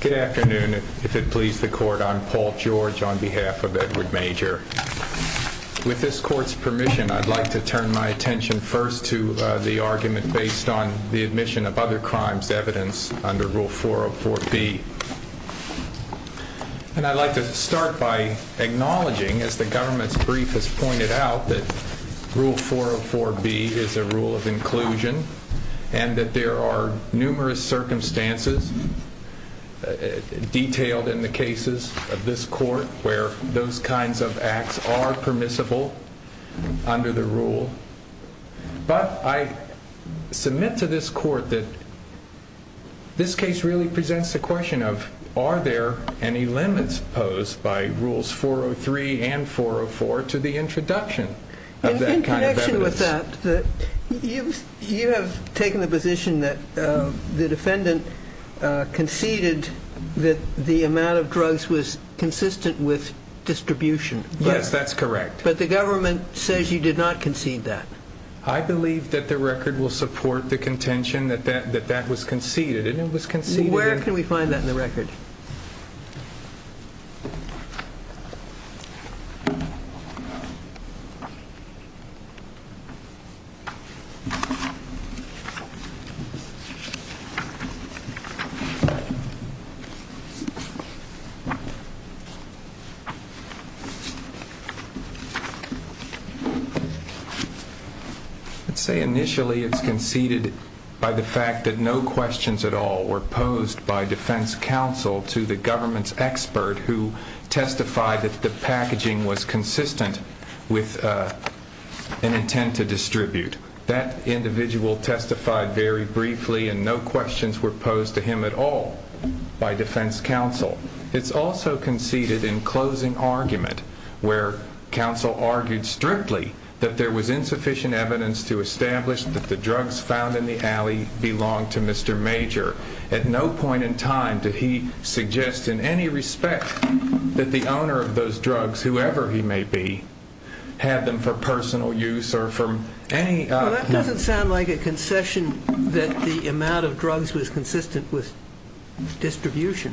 Good afternoon. If it pleases the court, I'm Paul George on behalf of Edward Major. With this court's permission, I'd like to turn my attention first to the argument based on the admission of other crimes evidence under Rule 404B. And I'd like to start by acknowledging, as the government's brief has pointed out, that Rule 404B is a rule of inclusion and that there are numerous circumstances detailed in the cases of this court where those kinds of acts are permissible under the rule. But I submit to this court that this case really presents the question of, are there any limits posed by Rules 403 and 404 to the introduction of that kind of evidence? The defendant conceded that the amount of drugs was consistent with distribution. Yes, that's correct. But the government says you did not concede that. I believe that the record will support the contention that that was conceded. Where can we find that in the record? Let's say initially it's conceded by the fact that no questions at all were posed by defense counsel to the government's expert who testified that the packaging was consistent with an intent to distribute drugs. That individual testified very briefly and no questions were posed to him at all by defense counsel. It's also conceded in closing argument where counsel argued strictly that there was insufficient evidence to establish that the drugs found in the alley belonged to Mr. Major. At no point in time did he suggest in any respect that the owner of those drugs, whoever he may be, had them for personal use or for any... Well, that doesn't sound like a concession that the amount of drugs was consistent with distribution.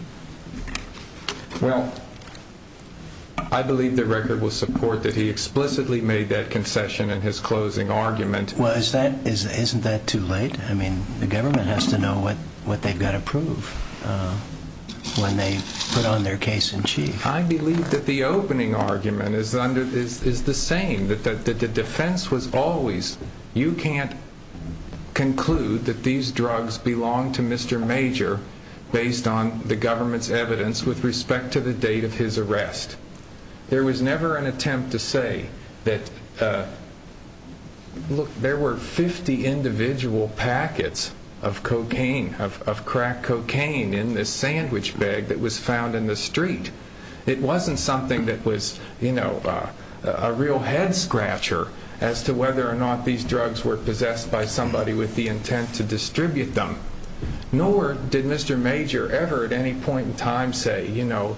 Well, I believe the record will support that he explicitly made that concession in his closing argument. Well, isn't that too late? I mean, the government has to know what they've got to prove when they put on their case in chief. I believe that the opening argument is the same, that the defense was always you can't conclude that these drugs belong to Mr. Major based on the government's evidence with respect to the date of his arrest. There was never an attempt to say that, look, there were 50 individual packets of cocaine, of crack cocaine in this sandwich bag that was found in the street. It wasn't something that was, you know, a real head scratcher as to whether or not these drugs were possessed by somebody with the intent to distribute them. Nor did Mr. Major ever at any point in time say, you know,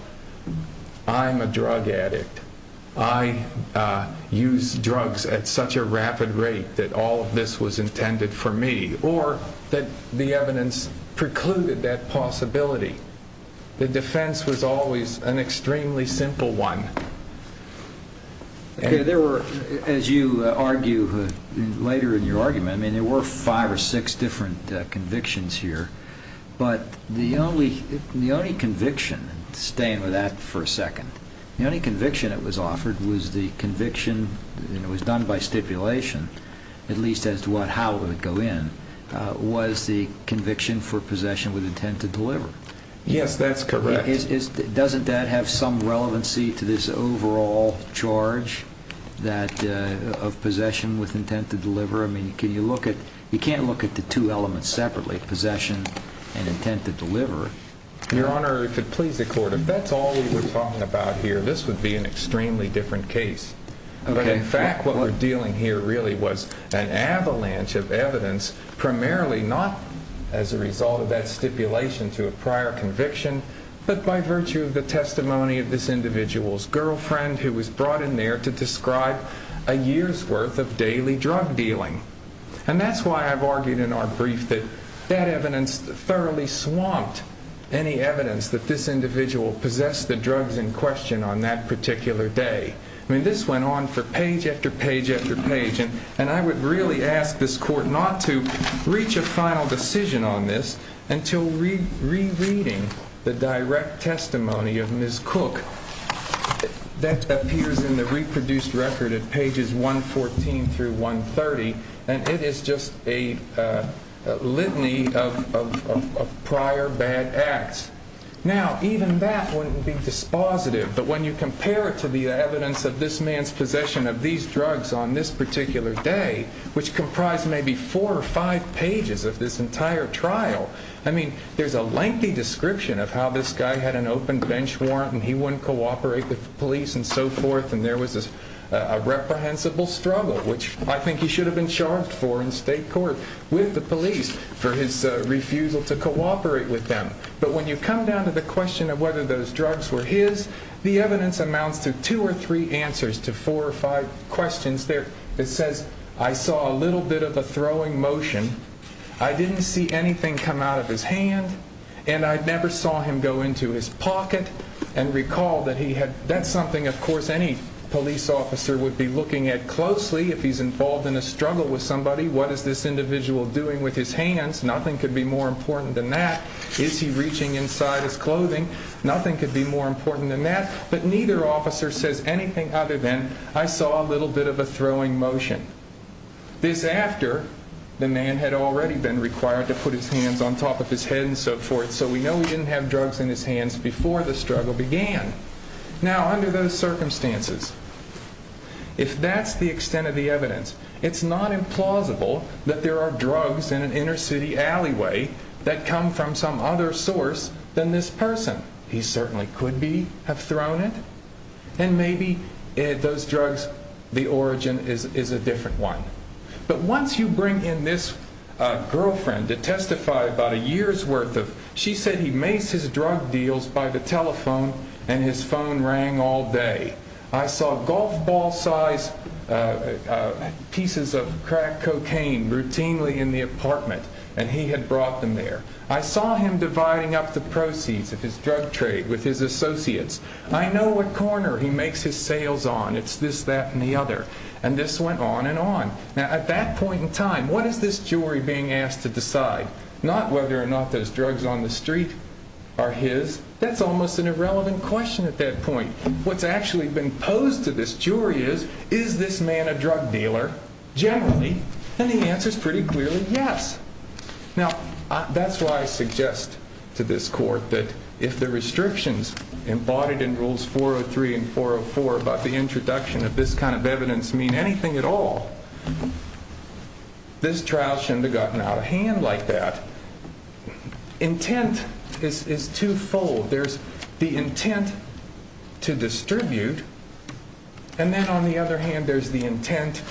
I'm a drug addict. I use drugs at such a rapid rate that all of this was intended for me. Or that the evidence precluded that possibility. The defense was always an extremely simple one. There were, as you argue later in your argument, I mean, there were five or six different convictions here. But the only conviction, staying with that for a second, the only conviction that was offered was the conviction, and it was done by stipulation, at least as to how it would go in, was the conviction for possession with intent to deliver. Yes, that's correct. Doesn't that have some relevancy to this overall charge of possession with intent to deliver? I mean, you can't look at the two elements separately, possession and intent to deliver. Your Honor, if it please the Court, if that's all we were talking about here, this would be an extremely different case. But in fact, what we're dealing here really was an avalanche of evidence, primarily not as a result of that stipulation to a prior conviction, but by virtue of the testimony of this individual's girlfriend who was brought in there to describe a year's worth of daily drug dealing. And that's why I've argued in our brief that that evidence thoroughly swamped any evidence that this individual possessed the drugs in question on that particular day. I mean, this went on for page after page after page. And I would really ask this Court not to reach a final decision on this until rereading the direct testimony of Ms. Cook that appears in the reproduced record at pages 114 through 130. And it is just a litany of prior bad acts. Now, even that wouldn't be dispositive. But when you compare it to the evidence of this man's possession of these drugs on this particular day, which comprised maybe four or five pages of this entire trial, I mean, there's a lengthy description of how this guy had an open bench warrant and he wouldn't cooperate with the police and so forth. And there was a reprehensible struggle, which I think he should have been charged for in state court with the police for his refusal to cooperate with them. But when you come down to the question of whether those drugs were his, the evidence amounts to two or three answers to four or five questions. It says, I saw a little bit of a throwing motion. I didn't see anything come out of his hand. And I never saw him go into his pocket and recall that he had. That's something, of course, any police officer would be looking at closely if he's involved in a struggle with somebody. What is this individual doing with his hands? Nothing could be more important than that. Is he reaching inside his clothing? Nothing could be more important than that. But neither officer says anything other than I saw a little bit of a throwing motion. This after the man had already been required to put his hands on top of his head and so forth. So we know he didn't have drugs in his hands before the struggle began. Now, under those circumstances, if that's the extent of the evidence, it's not implausible that there are drugs in an inner city alleyway that come from some other source than this person. He certainly could be have thrown it. And maybe those drugs, the origin is a different one. But once you bring in this girlfriend to testify about a year's worth of, she said he makes his drug deals by the telephone and his phone rang all day. I saw golf ball size pieces of crack cocaine routinely in the apartment and he had brought them there. I saw him dividing up the proceeds of his drug trade with his associates. I know what corner he makes his sales on. It's this, that and the other. And this went on and on. Now, at that point in time, what is this jury being asked to decide? Not whether or not those drugs on the street are his. That's almost an irrelevant question at that point. What's actually been posed to this jury is, is this man a drug dealer generally? And the answer is pretty clearly yes. Now, that's why I suggest to this court that if the restrictions embodied in rules 403 and 404 about the introduction of this kind of evidence mean anything at all. This trial should have gotten out of hand like that. Intent is twofold. There's the intent to distribute. And then on the other hand, there's the intent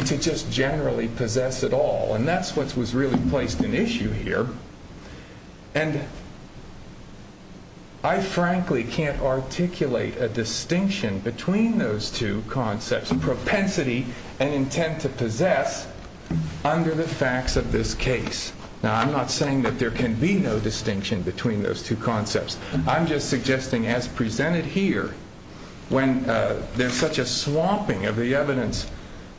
to just generally possess it all. And that's what was really placed in issue here. And I frankly can't articulate a distinction between those two concepts, propensity and intent to possess under the facts of this case. Now, I'm not saying that there can be no distinction between those two concepts. I'm just suggesting as presented here, when there's such a swamping of the evidence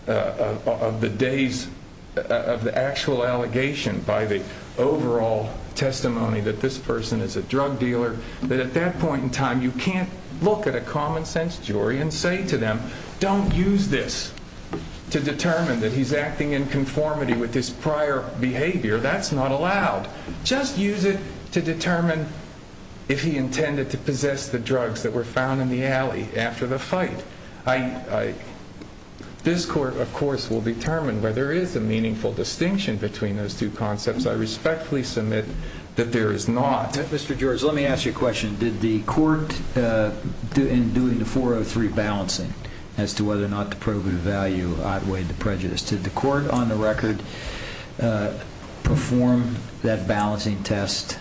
of the days of the actual allegation by the overall testimony that this person is a drug dealer, that at that point in time, you can't look at a common sense jury and say to them, don't use this to determine that he's acting in conformity with his prior behavior. That's not allowed. Just use it to determine if he intended to possess the drugs that were found in the alley after the fight. This court, of course, will determine whether there is a meaningful distinction between those two concepts. I respectfully submit that there is not. Mr. George, let me ask you a question. Did the court in doing the 403 balancing as to whether or not the probative value outweighed the prejudice? Did the court on the record perform that balancing test?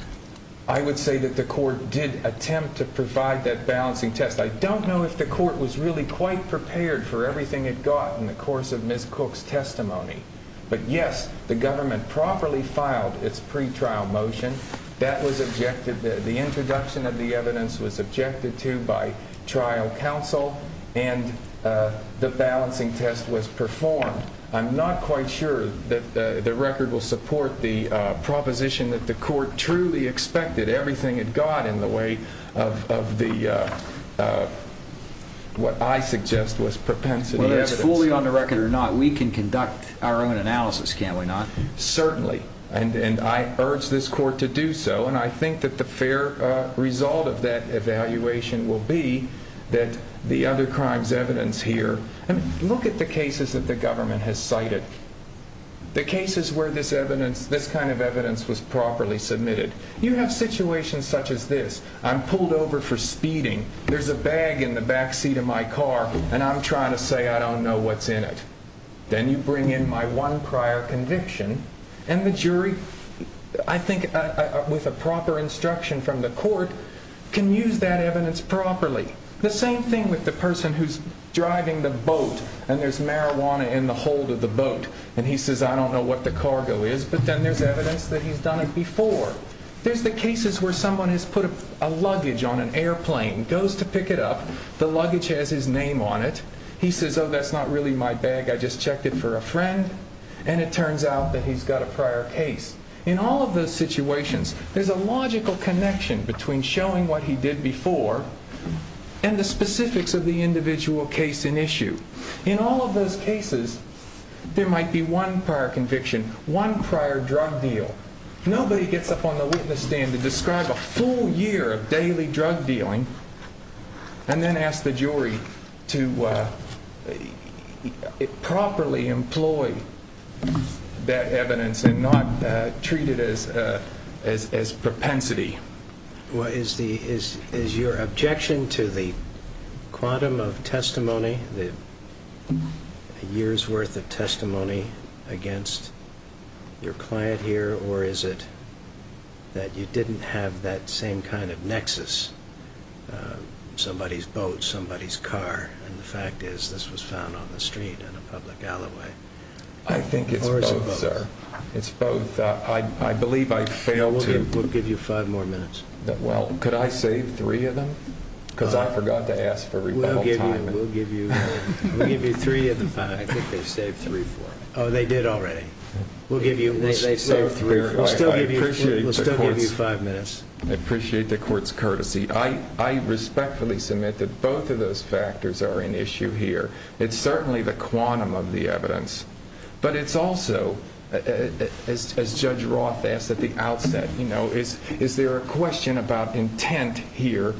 I would say that the court did attempt to provide that balancing test. I don't know if the court was really quite prepared for everything it got in the course of Ms. Cook's testimony. But yes, the government properly filed its pretrial motion. The introduction of the evidence was objected to by trial counsel, and the balancing test was performed. I'm not quite sure that the record will support the proposition that the court truly expected everything it got in the way of what I suggest was propensity evidence. Whether it's fully on the record or not, we can conduct our own analysis, can't we not? Certainly. And I urge this court to do so, and I think that the fair result of that evaluation will be that the other crimes' evidence here Look at the cases that the government has cited, the cases where this kind of evidence was properly submitted. You have situations such as this. I'm pulled over for speeding. There's a bag in the back seat of my car, and I'm trying to say I don't know what's in it. Then you bring in my one prior conviction, and the jury, I think with a proper instruction from the court, can use that evidence properly. The same thing with the person who's driving the boat, and there's marijuana in the hold of the boat. And he says I don't know what the cargo is, but then there's evidence that he's done it before. There's the cases where someone has put a luggage on an airplane, goes to pick it up, the luggage has his name on it. He says, oh, that's not really my bag. I just checked it for a friend, and it turns out that he's got a prior case. In all of those situations, there's a logical connection between showing what he did before and the specifics of the individual case in issue. In all of those cases, there might be one prior conviction, one prior drug deal. Nobody gets up on the witness stand to describe a full year of daily drug dealing and then ask the jury to properly employ that evidence and not treat it as propensity. Is your objection to the quantum of testimony, the year's worth of testimony against your client here, or is it that you didn't have that same kind of nexus, somebody's boat, somebody's car, and the fact is this was found on the street in a public alleyway? I think it's both, sir. It's both. We'll give you five more minutes. Well, could I save three of them? Because I forgot to ask for rebuttal time. We'll give you three of them. I think they saved three for me. Oh, they did already. We'll still give you five minutes. I appreciate the court's courtesy. I respectfully submit that both of those factors are in issue here. It's certainly the quantum of the evidence. But it's also, as Judge Roth asked at the outset, is there a question about intent here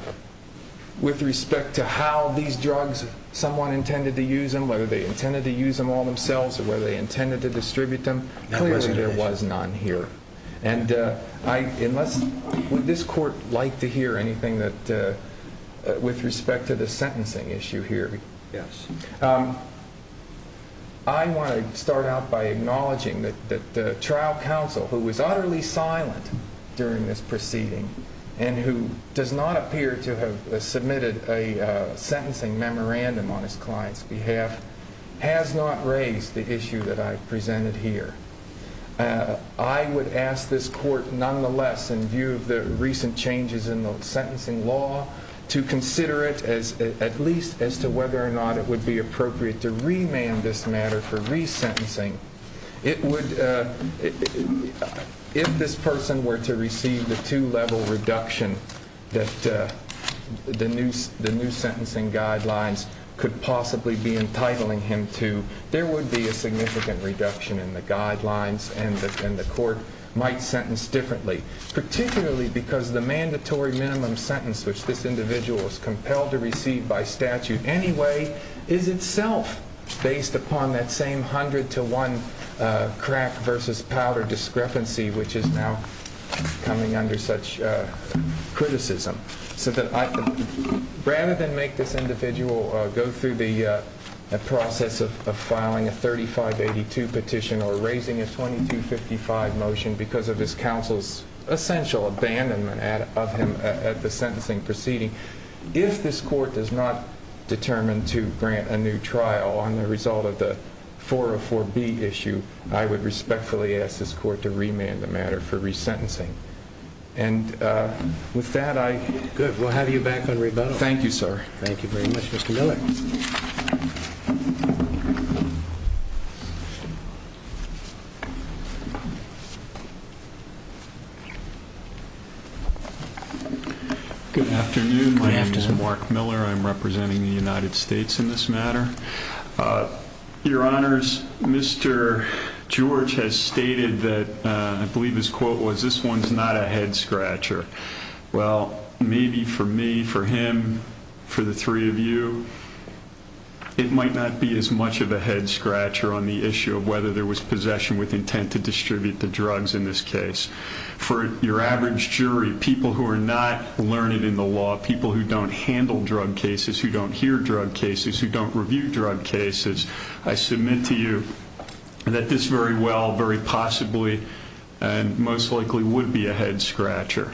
with respect to how these drugs, someone intended to use them, whether they intended to use them all themselves or whether they intended to distribute them? Clearly there was none here. And would this court like to hear anything with respect to the sentencing issue here? Yes. I want to start out by acknowledging that the trial counsel, who was utterly silent during this proceeding and who does not appear to have submitted a sentencing memorandum on his client's behalf, has not raised the issue that I presented here. I would ask this court, nonetheless, in view of the recent changes in the sentencing law, to consider it at least as to whether or not it would be appropriate to remand this matter for resentencing. If this person were to receive the two-level reduction that the new sentencing guidelines could possibly be entitling him to, there would be a significant reduction in the guidelines and the court might sentence differently, particularly because the mandatory minimum sentence which this individual is compelled to receive by statute anyway is itself based upon that same 100 to 1 crack versus powder discrepancy which is now coming under such criticism. So that rather than make this individual go through the process of filing a 3582 petition or raising a 2255 motion because of his counsel's essential abandonment of him at the sentencing proceeding, if this court does not determine to grant a new trial on the result of the 404B issue, I would respectfully ask this court to remand the matter for resentencing. And with that, I... Good. We'll have you back on rebuttal. Thank you, sir. Thank you very much, Mr. Miller. Good afternoon. Good afternoon. My name is Mark Miller. I'm representing the United States in this matter. Your Honors, Mr. George has stated that I believe his quote was, this one's not a head scratcher. Well, maybe for me, for him, for the three of you, it might not be as much of a head scratcher on the issue of whether there was powder discrepancy in possession with intent to distribute the drugs in this case. For your average jury, people who are not learned in the law, people who don't handle drug cases, who don't hear drug cases, who don't review drug cases, I submit to you that this very well, very possibly, and most likely would be a head scratcher.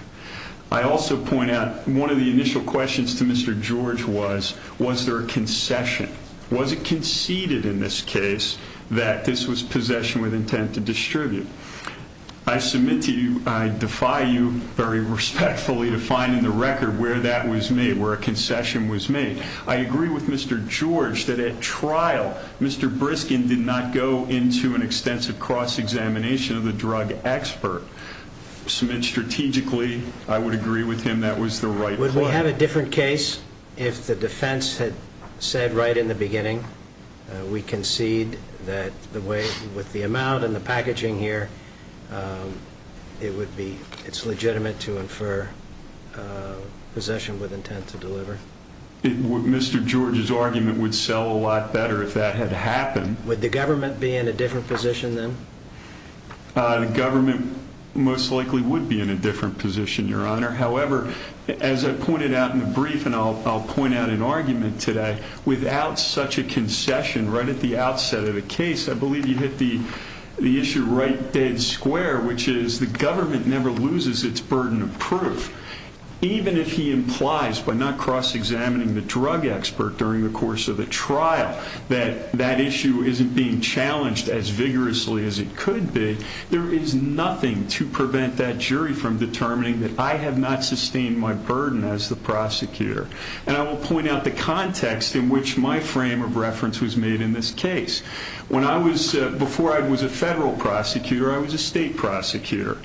I also point out one of the initial questions to Mr. George was, was there a concession? Was it conceded in this case that this was possession with intent to distribute? I submit to you, I defy you very respectfully to find in the record where that was made, where a concession was made. I agree with Mr. George that at trial, Mr. Briskin did not go into an extensive cross-examination of the drug expert. Strategically, I would agree with him that was the right play. Would we have a different case if the defense had said right in the beginning, we concede that with the amount and the packaging here, it's legitimate to infer possession with intent to deliver? Mr. George's argument would sell a lot better if that had happened. Would the government be in a different position then? The government most likely would be in a different position, Your Honor. However, as I pointed out in the brief and I'll point out in argument today, without such a concession right at the outset of the case, I believe you hit the issue right dead square, which is the government never loses its burden of proof. Even if he implies by not cross-examining the drug expert during the course of the trial that that issue isn't being challenged as vigorously as it could be, there is nothing to prevent that jury from determining that I have not sustained my burden as the prosecutor. And I will point out the context in which my frame of reference was made in this case. Before I was a federal prosecutor, I was a state prosecutor.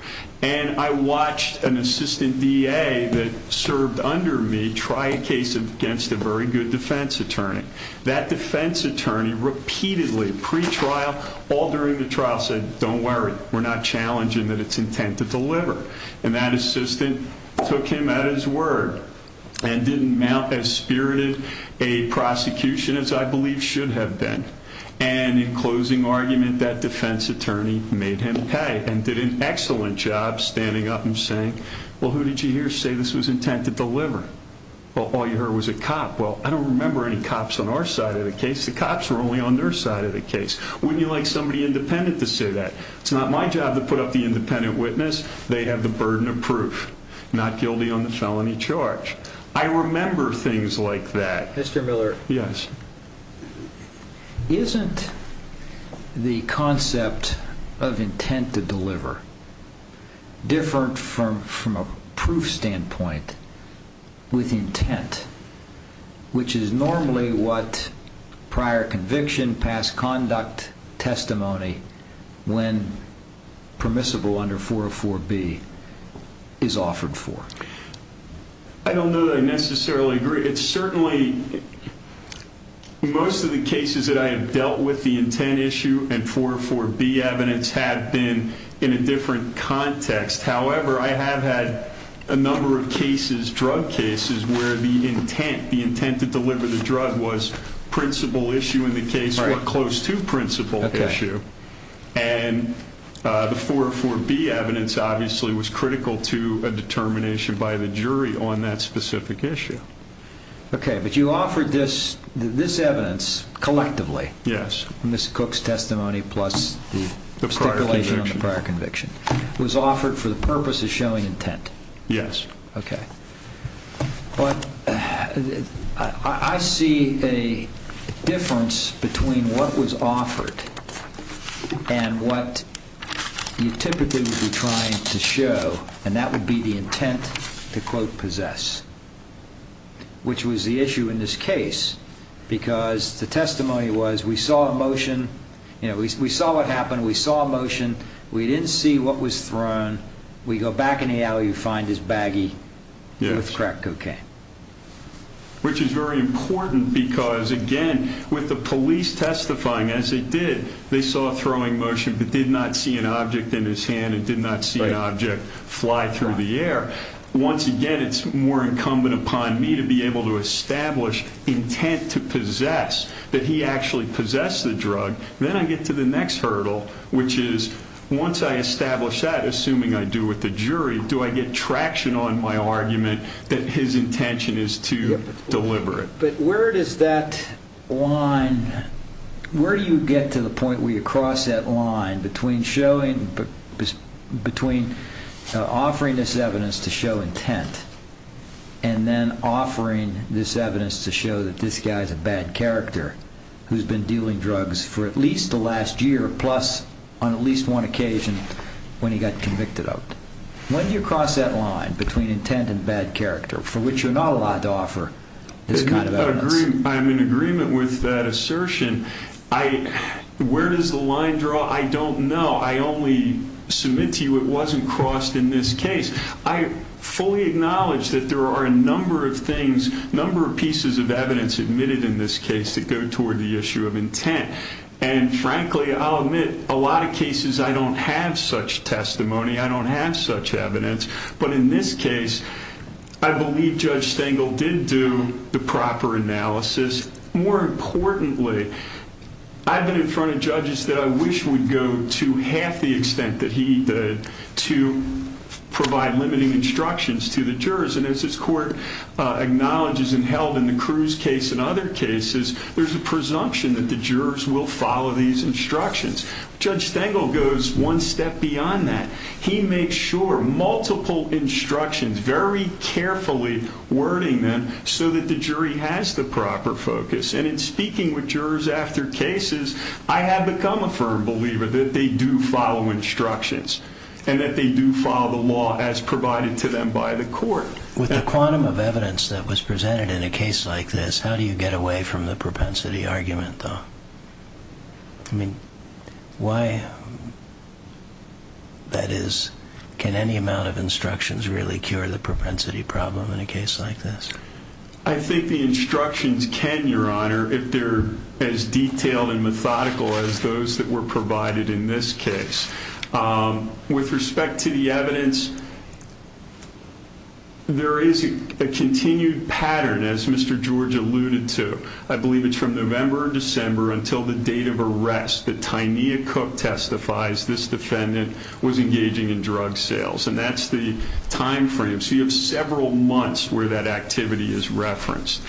And I watched an assistant DA that served under me try a case against a very good defense attorney. That defense attorney repeatedly, pre-trial, all during the trial, said, don't worry, we're not challenging that it's intent to deliver. And that assistant took him at his word and didn't mount as spirited a prosecution as I believe should have been. And in closing argument, that defense attorney made him pay and did an excellent job standing up and saying, well, who did you hear say this was intent to deliver? Well, all you heard was a cop. Well, I don't remember any cops on our side of the case. The cops were only on their side of the case. Wouldn't you like somebody independent to say that? It's not my job to put up the independent witness. They have the burden of proof, not guilty on the felony charge. I remember things like that. Mr. Miller. Yes. Isn't the concept of intent to deliver different from a proof standpoint with intent, which is normally what prior conviction, past conduct, testimony, when permissible under 404B, is offered for? I don't know that I necessarily agree. It's certainly most of the cases that I have dealt with, the intent issue and 404B evidence, have been in a different context. However, I have had a number of cases, drug cases, where the intent, the intent to deliver the drug was principal issue in the case or close to principal issue. And the 404B evidence obviously was critical to a determination by the jury on that specific issue. Okay, but you offered this evidence collectively. Yes. Ms. Cook's testimony plus the stipulation on the prior conviction. It was offered for the purpose of showing intent. Yes. Okay. But I see a difference between what was offered and what you typically would be trying to show, and that would be the intent to, quote, possess, which was the issue in this case because the testimony was we saw a motion. We saw what happened. We saw a motion. We didn't see what was thrown. We go back in the alley, we find this baggie with crack cocaine. Which is very important because, again, with the police testifying as they did, they saw a throwing motion but did not see an object in his hand and did not see an object fly through the air. Once again, it's more incumbent upon me to be able to establish intent to possess, that he actually possessed the drug. Then I get to the next hurdle, which is once I establish that, assuming I do with the jury, do I get traction on my argument that his intention is to deliver it? But where does that line, where do you get to the point where you cross that line between showing, between offering this evidence to show intent and then offering this evidence to show that this guy is a bad character who's been dealing drugs for at least the last year plus on at least one occasion when he got convicted of it? When do you cross that line between intent and bad character for which you're not allowed to offer this kind of evidence? I'm in agreement with that assertion. Where does the line draw? I don't know. I only submit to you it wasn't crossed in this case. I fully acknowledge that there are a number of things, number of pieces of evidence admitted in this case that go toward the issue of intent. And frankly, I'll admit a lot of cases I don't have such testimony. I don't have such evidence. But in this case, I believe Judge Stengel did do the proper analysis. More importantly, I've been in front of judges that I wish would go to half the extent that he did to provide limiting instructions to the jurors. And as this court acknowledges and held in the Cruz case and other cases, there's a presumption that the jurors will follow these instructions. Judge Stengel goes one step beyond that. He makes sure multiple instructions, very carefully wording them, so that the jury has the proper focus. And in speaking with jurors after cases, I have become a firm believer that they do follow instructions and that they do follow the law as provided to them by the court. With the quantum of evidence that was presented in a case like this, how do you get away from the propensity argument, though? I mean, why? That is, can any amount of instructions really cure the propensity problem in a case like this? I think the instructions can, Your Honor, if they're as detailed and methodical as those that were provided in this case. With respect to the evidence, there is a continued pattern, as Mr. George alluded to. I believe it's from November or December until the date of arrest that Tynia Cook testifies this defendant was engaging in drug sales. And that's the time frame. So you have several months where that activity is referenced.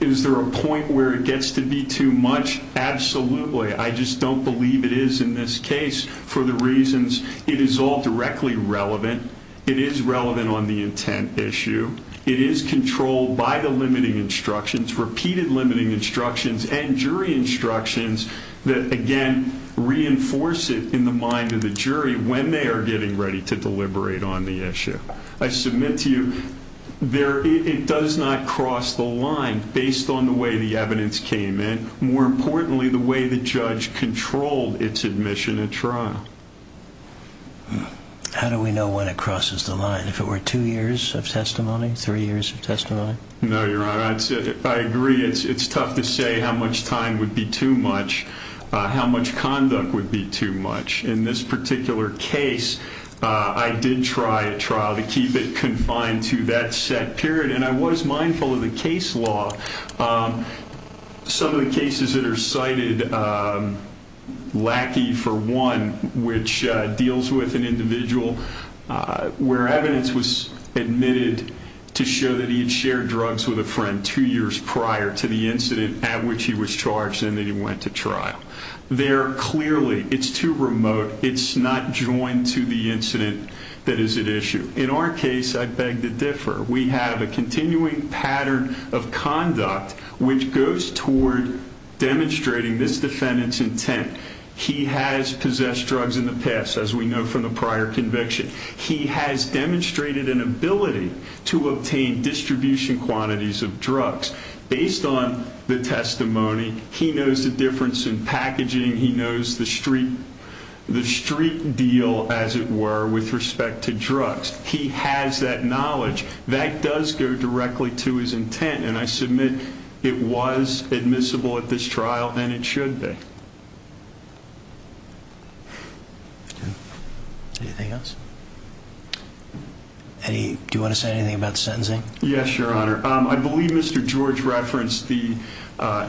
Is there a point where it gets to be too much? Absolutely. I just don't believe it is in this case for the reasons it is all directly relevant. It is relevant on the intent issue. It is controlled by the limiting instructions, repeated limiting instructions, and jury instructions that, again, reinforce it in the mind of the jury when they are getting ready to deliberate on the issue. I submit to you it does not cross the line based on the way the evidence came in, more importantly, the way the judge controlled its admission at trial. How do we know when it crosses the line? If it were two years of testimony, three years of testimony? No, Your Honor, I agree. It's tough to say how much time would be too much, how much conduct would be too much. In this particular case, I did try a trial to keep it confined to that set period, and I was mindful of the case law. Some of the cases that are cited lackey, for one, which deals with an individual where evidence was admitted to show that he had shared drugs with a friend two years prior to the incident at which he was charged and then he went to trial. There, clearly, it's too remote. It's not joined to the incident that is at issue. In our case, I beg to differ. We have a continuing pattern of conduct which goes toward demonstrating this defendant's intent. He has possessed drugs in the past, as we know from the prior conviction. He has demonstrated an ability to obtain distribution quantities of drugs. Based on the testimony, he knows the difference in packaging. He knows the street deal, as it were, with respect to drugs. He has that knowledge. That does go directly to his intent, and I submit it was admissible at this trial, and it should be. Anything else? Do you want to say anything about sentencing? Yes, Your Honor. I believe Mr. George referenced the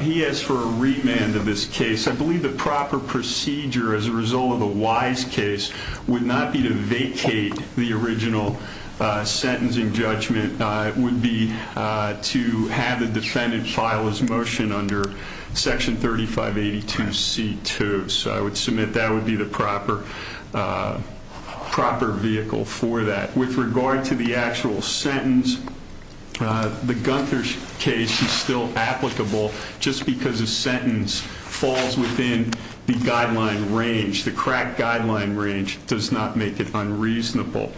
he asked for a remand of this case. I believe the proper procedure, as a result of the Wise case, would not be to vacate the original sentencing judgment. It would be to have the defendant file his motion under Section 3582C2. So I would submit that would be the proper vehicle for that. With regard to the actual sentence, the Gunther case is still applicable just because a sentence falls within the guideline range. The crack guideline range does not make it unreasonable.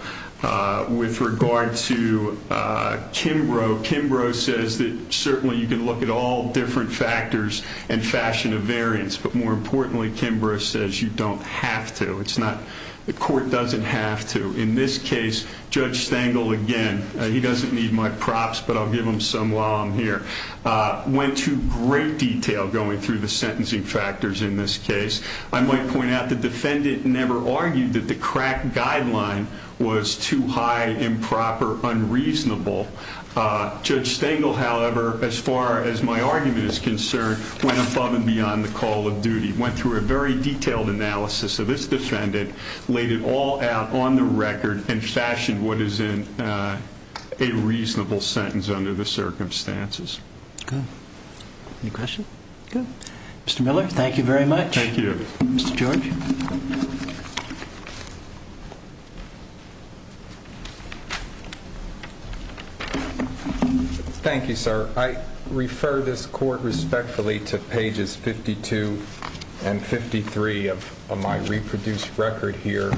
With regard to Kimbrough, Kimbrough says that certainly you can look at all different factors and fashion of variance, but more importantly, Kimbrough says you don't have to. The court doesn't have to. In this case, Judge Stengel, again, he doesn't need my props, but I'll give him some while I'm here, went to great detail going through the sentencing factors in this case. I might point out the defendant never argued that the crack guideline was too high, improper, unreasonable. Judge Stengel, however, as far as my argument is concerned, went above and beyond the call of duty, went through a very detailed analysis of this defendant, laid it all out on the record, and fashioned what is in a reasonable sentence under the circumstances. Any questions? Good. Mr. Miller, thank you very much. Thank you. Mr. George. Thank you, sir. I refer this court respectfully to pages 52 and 53 of my reproduced record here.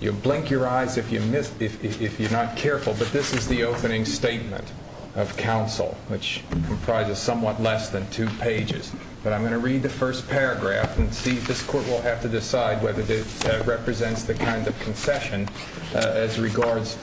You'll blink your eyes if you're not careful, but this is the opening statement of counsel, which comprises somewhat less than two pages. But I'm going to read the first paragraph and see if this court will have to decide whether it represents the kind of concession as regards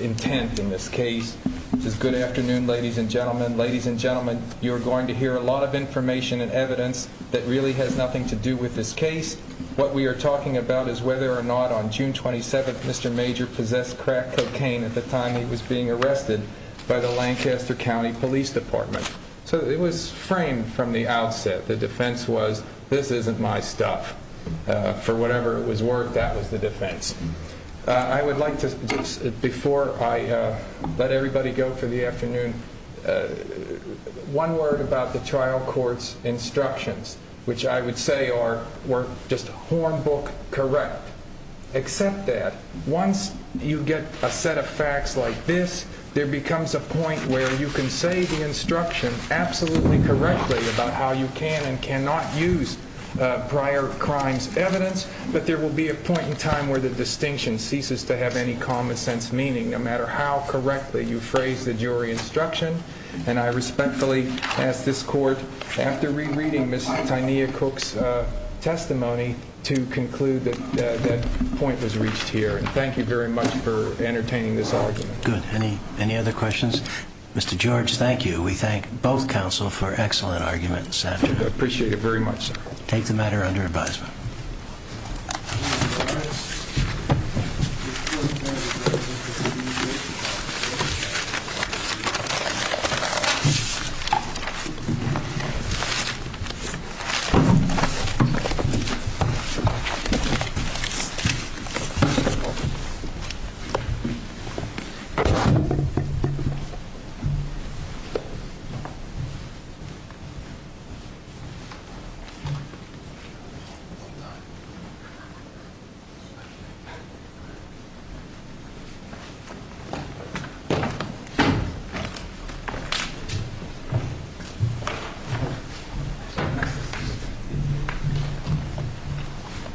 intent in this case. It says, Good afternoon, ladies and gentlemen. Ladies and gentlemen, you are going to hear a lot of information and evidence that really has nothing to do with this case. What we are talking about is whether or not on June 27th Mr. Major possessed crack cocaine at the time he was being arrested by the Lancaster County Police Department. So it was framed from the outset. The defense was, this isn't my stuff. For whatever it was worth, that was the defense. I would like to just, before I let everybody go for the afternoon, one word about the trial court's instructions, which I would say are just hornbook correct. Except that once you get a set of facts like this, there becomes a point where you can say the instruction absolutely correctly about how you can and cannot use prior crimes evidence, but there will be a point in time where the distinction ceases to have any common sense meaning, no matter how correctly you phrase the jury instruction. And I respectfully ask this court, after rereading Ms. Tynia Cook's testimony, to conclude that that point was reached here. And thank you very much for entertaining this argument. Good. Any other questions? Mr. George, thank you. We thank both counsel for excellent arguments this afternoon. I appreciate it very much, sir. Take the matter under advisement. Thank you.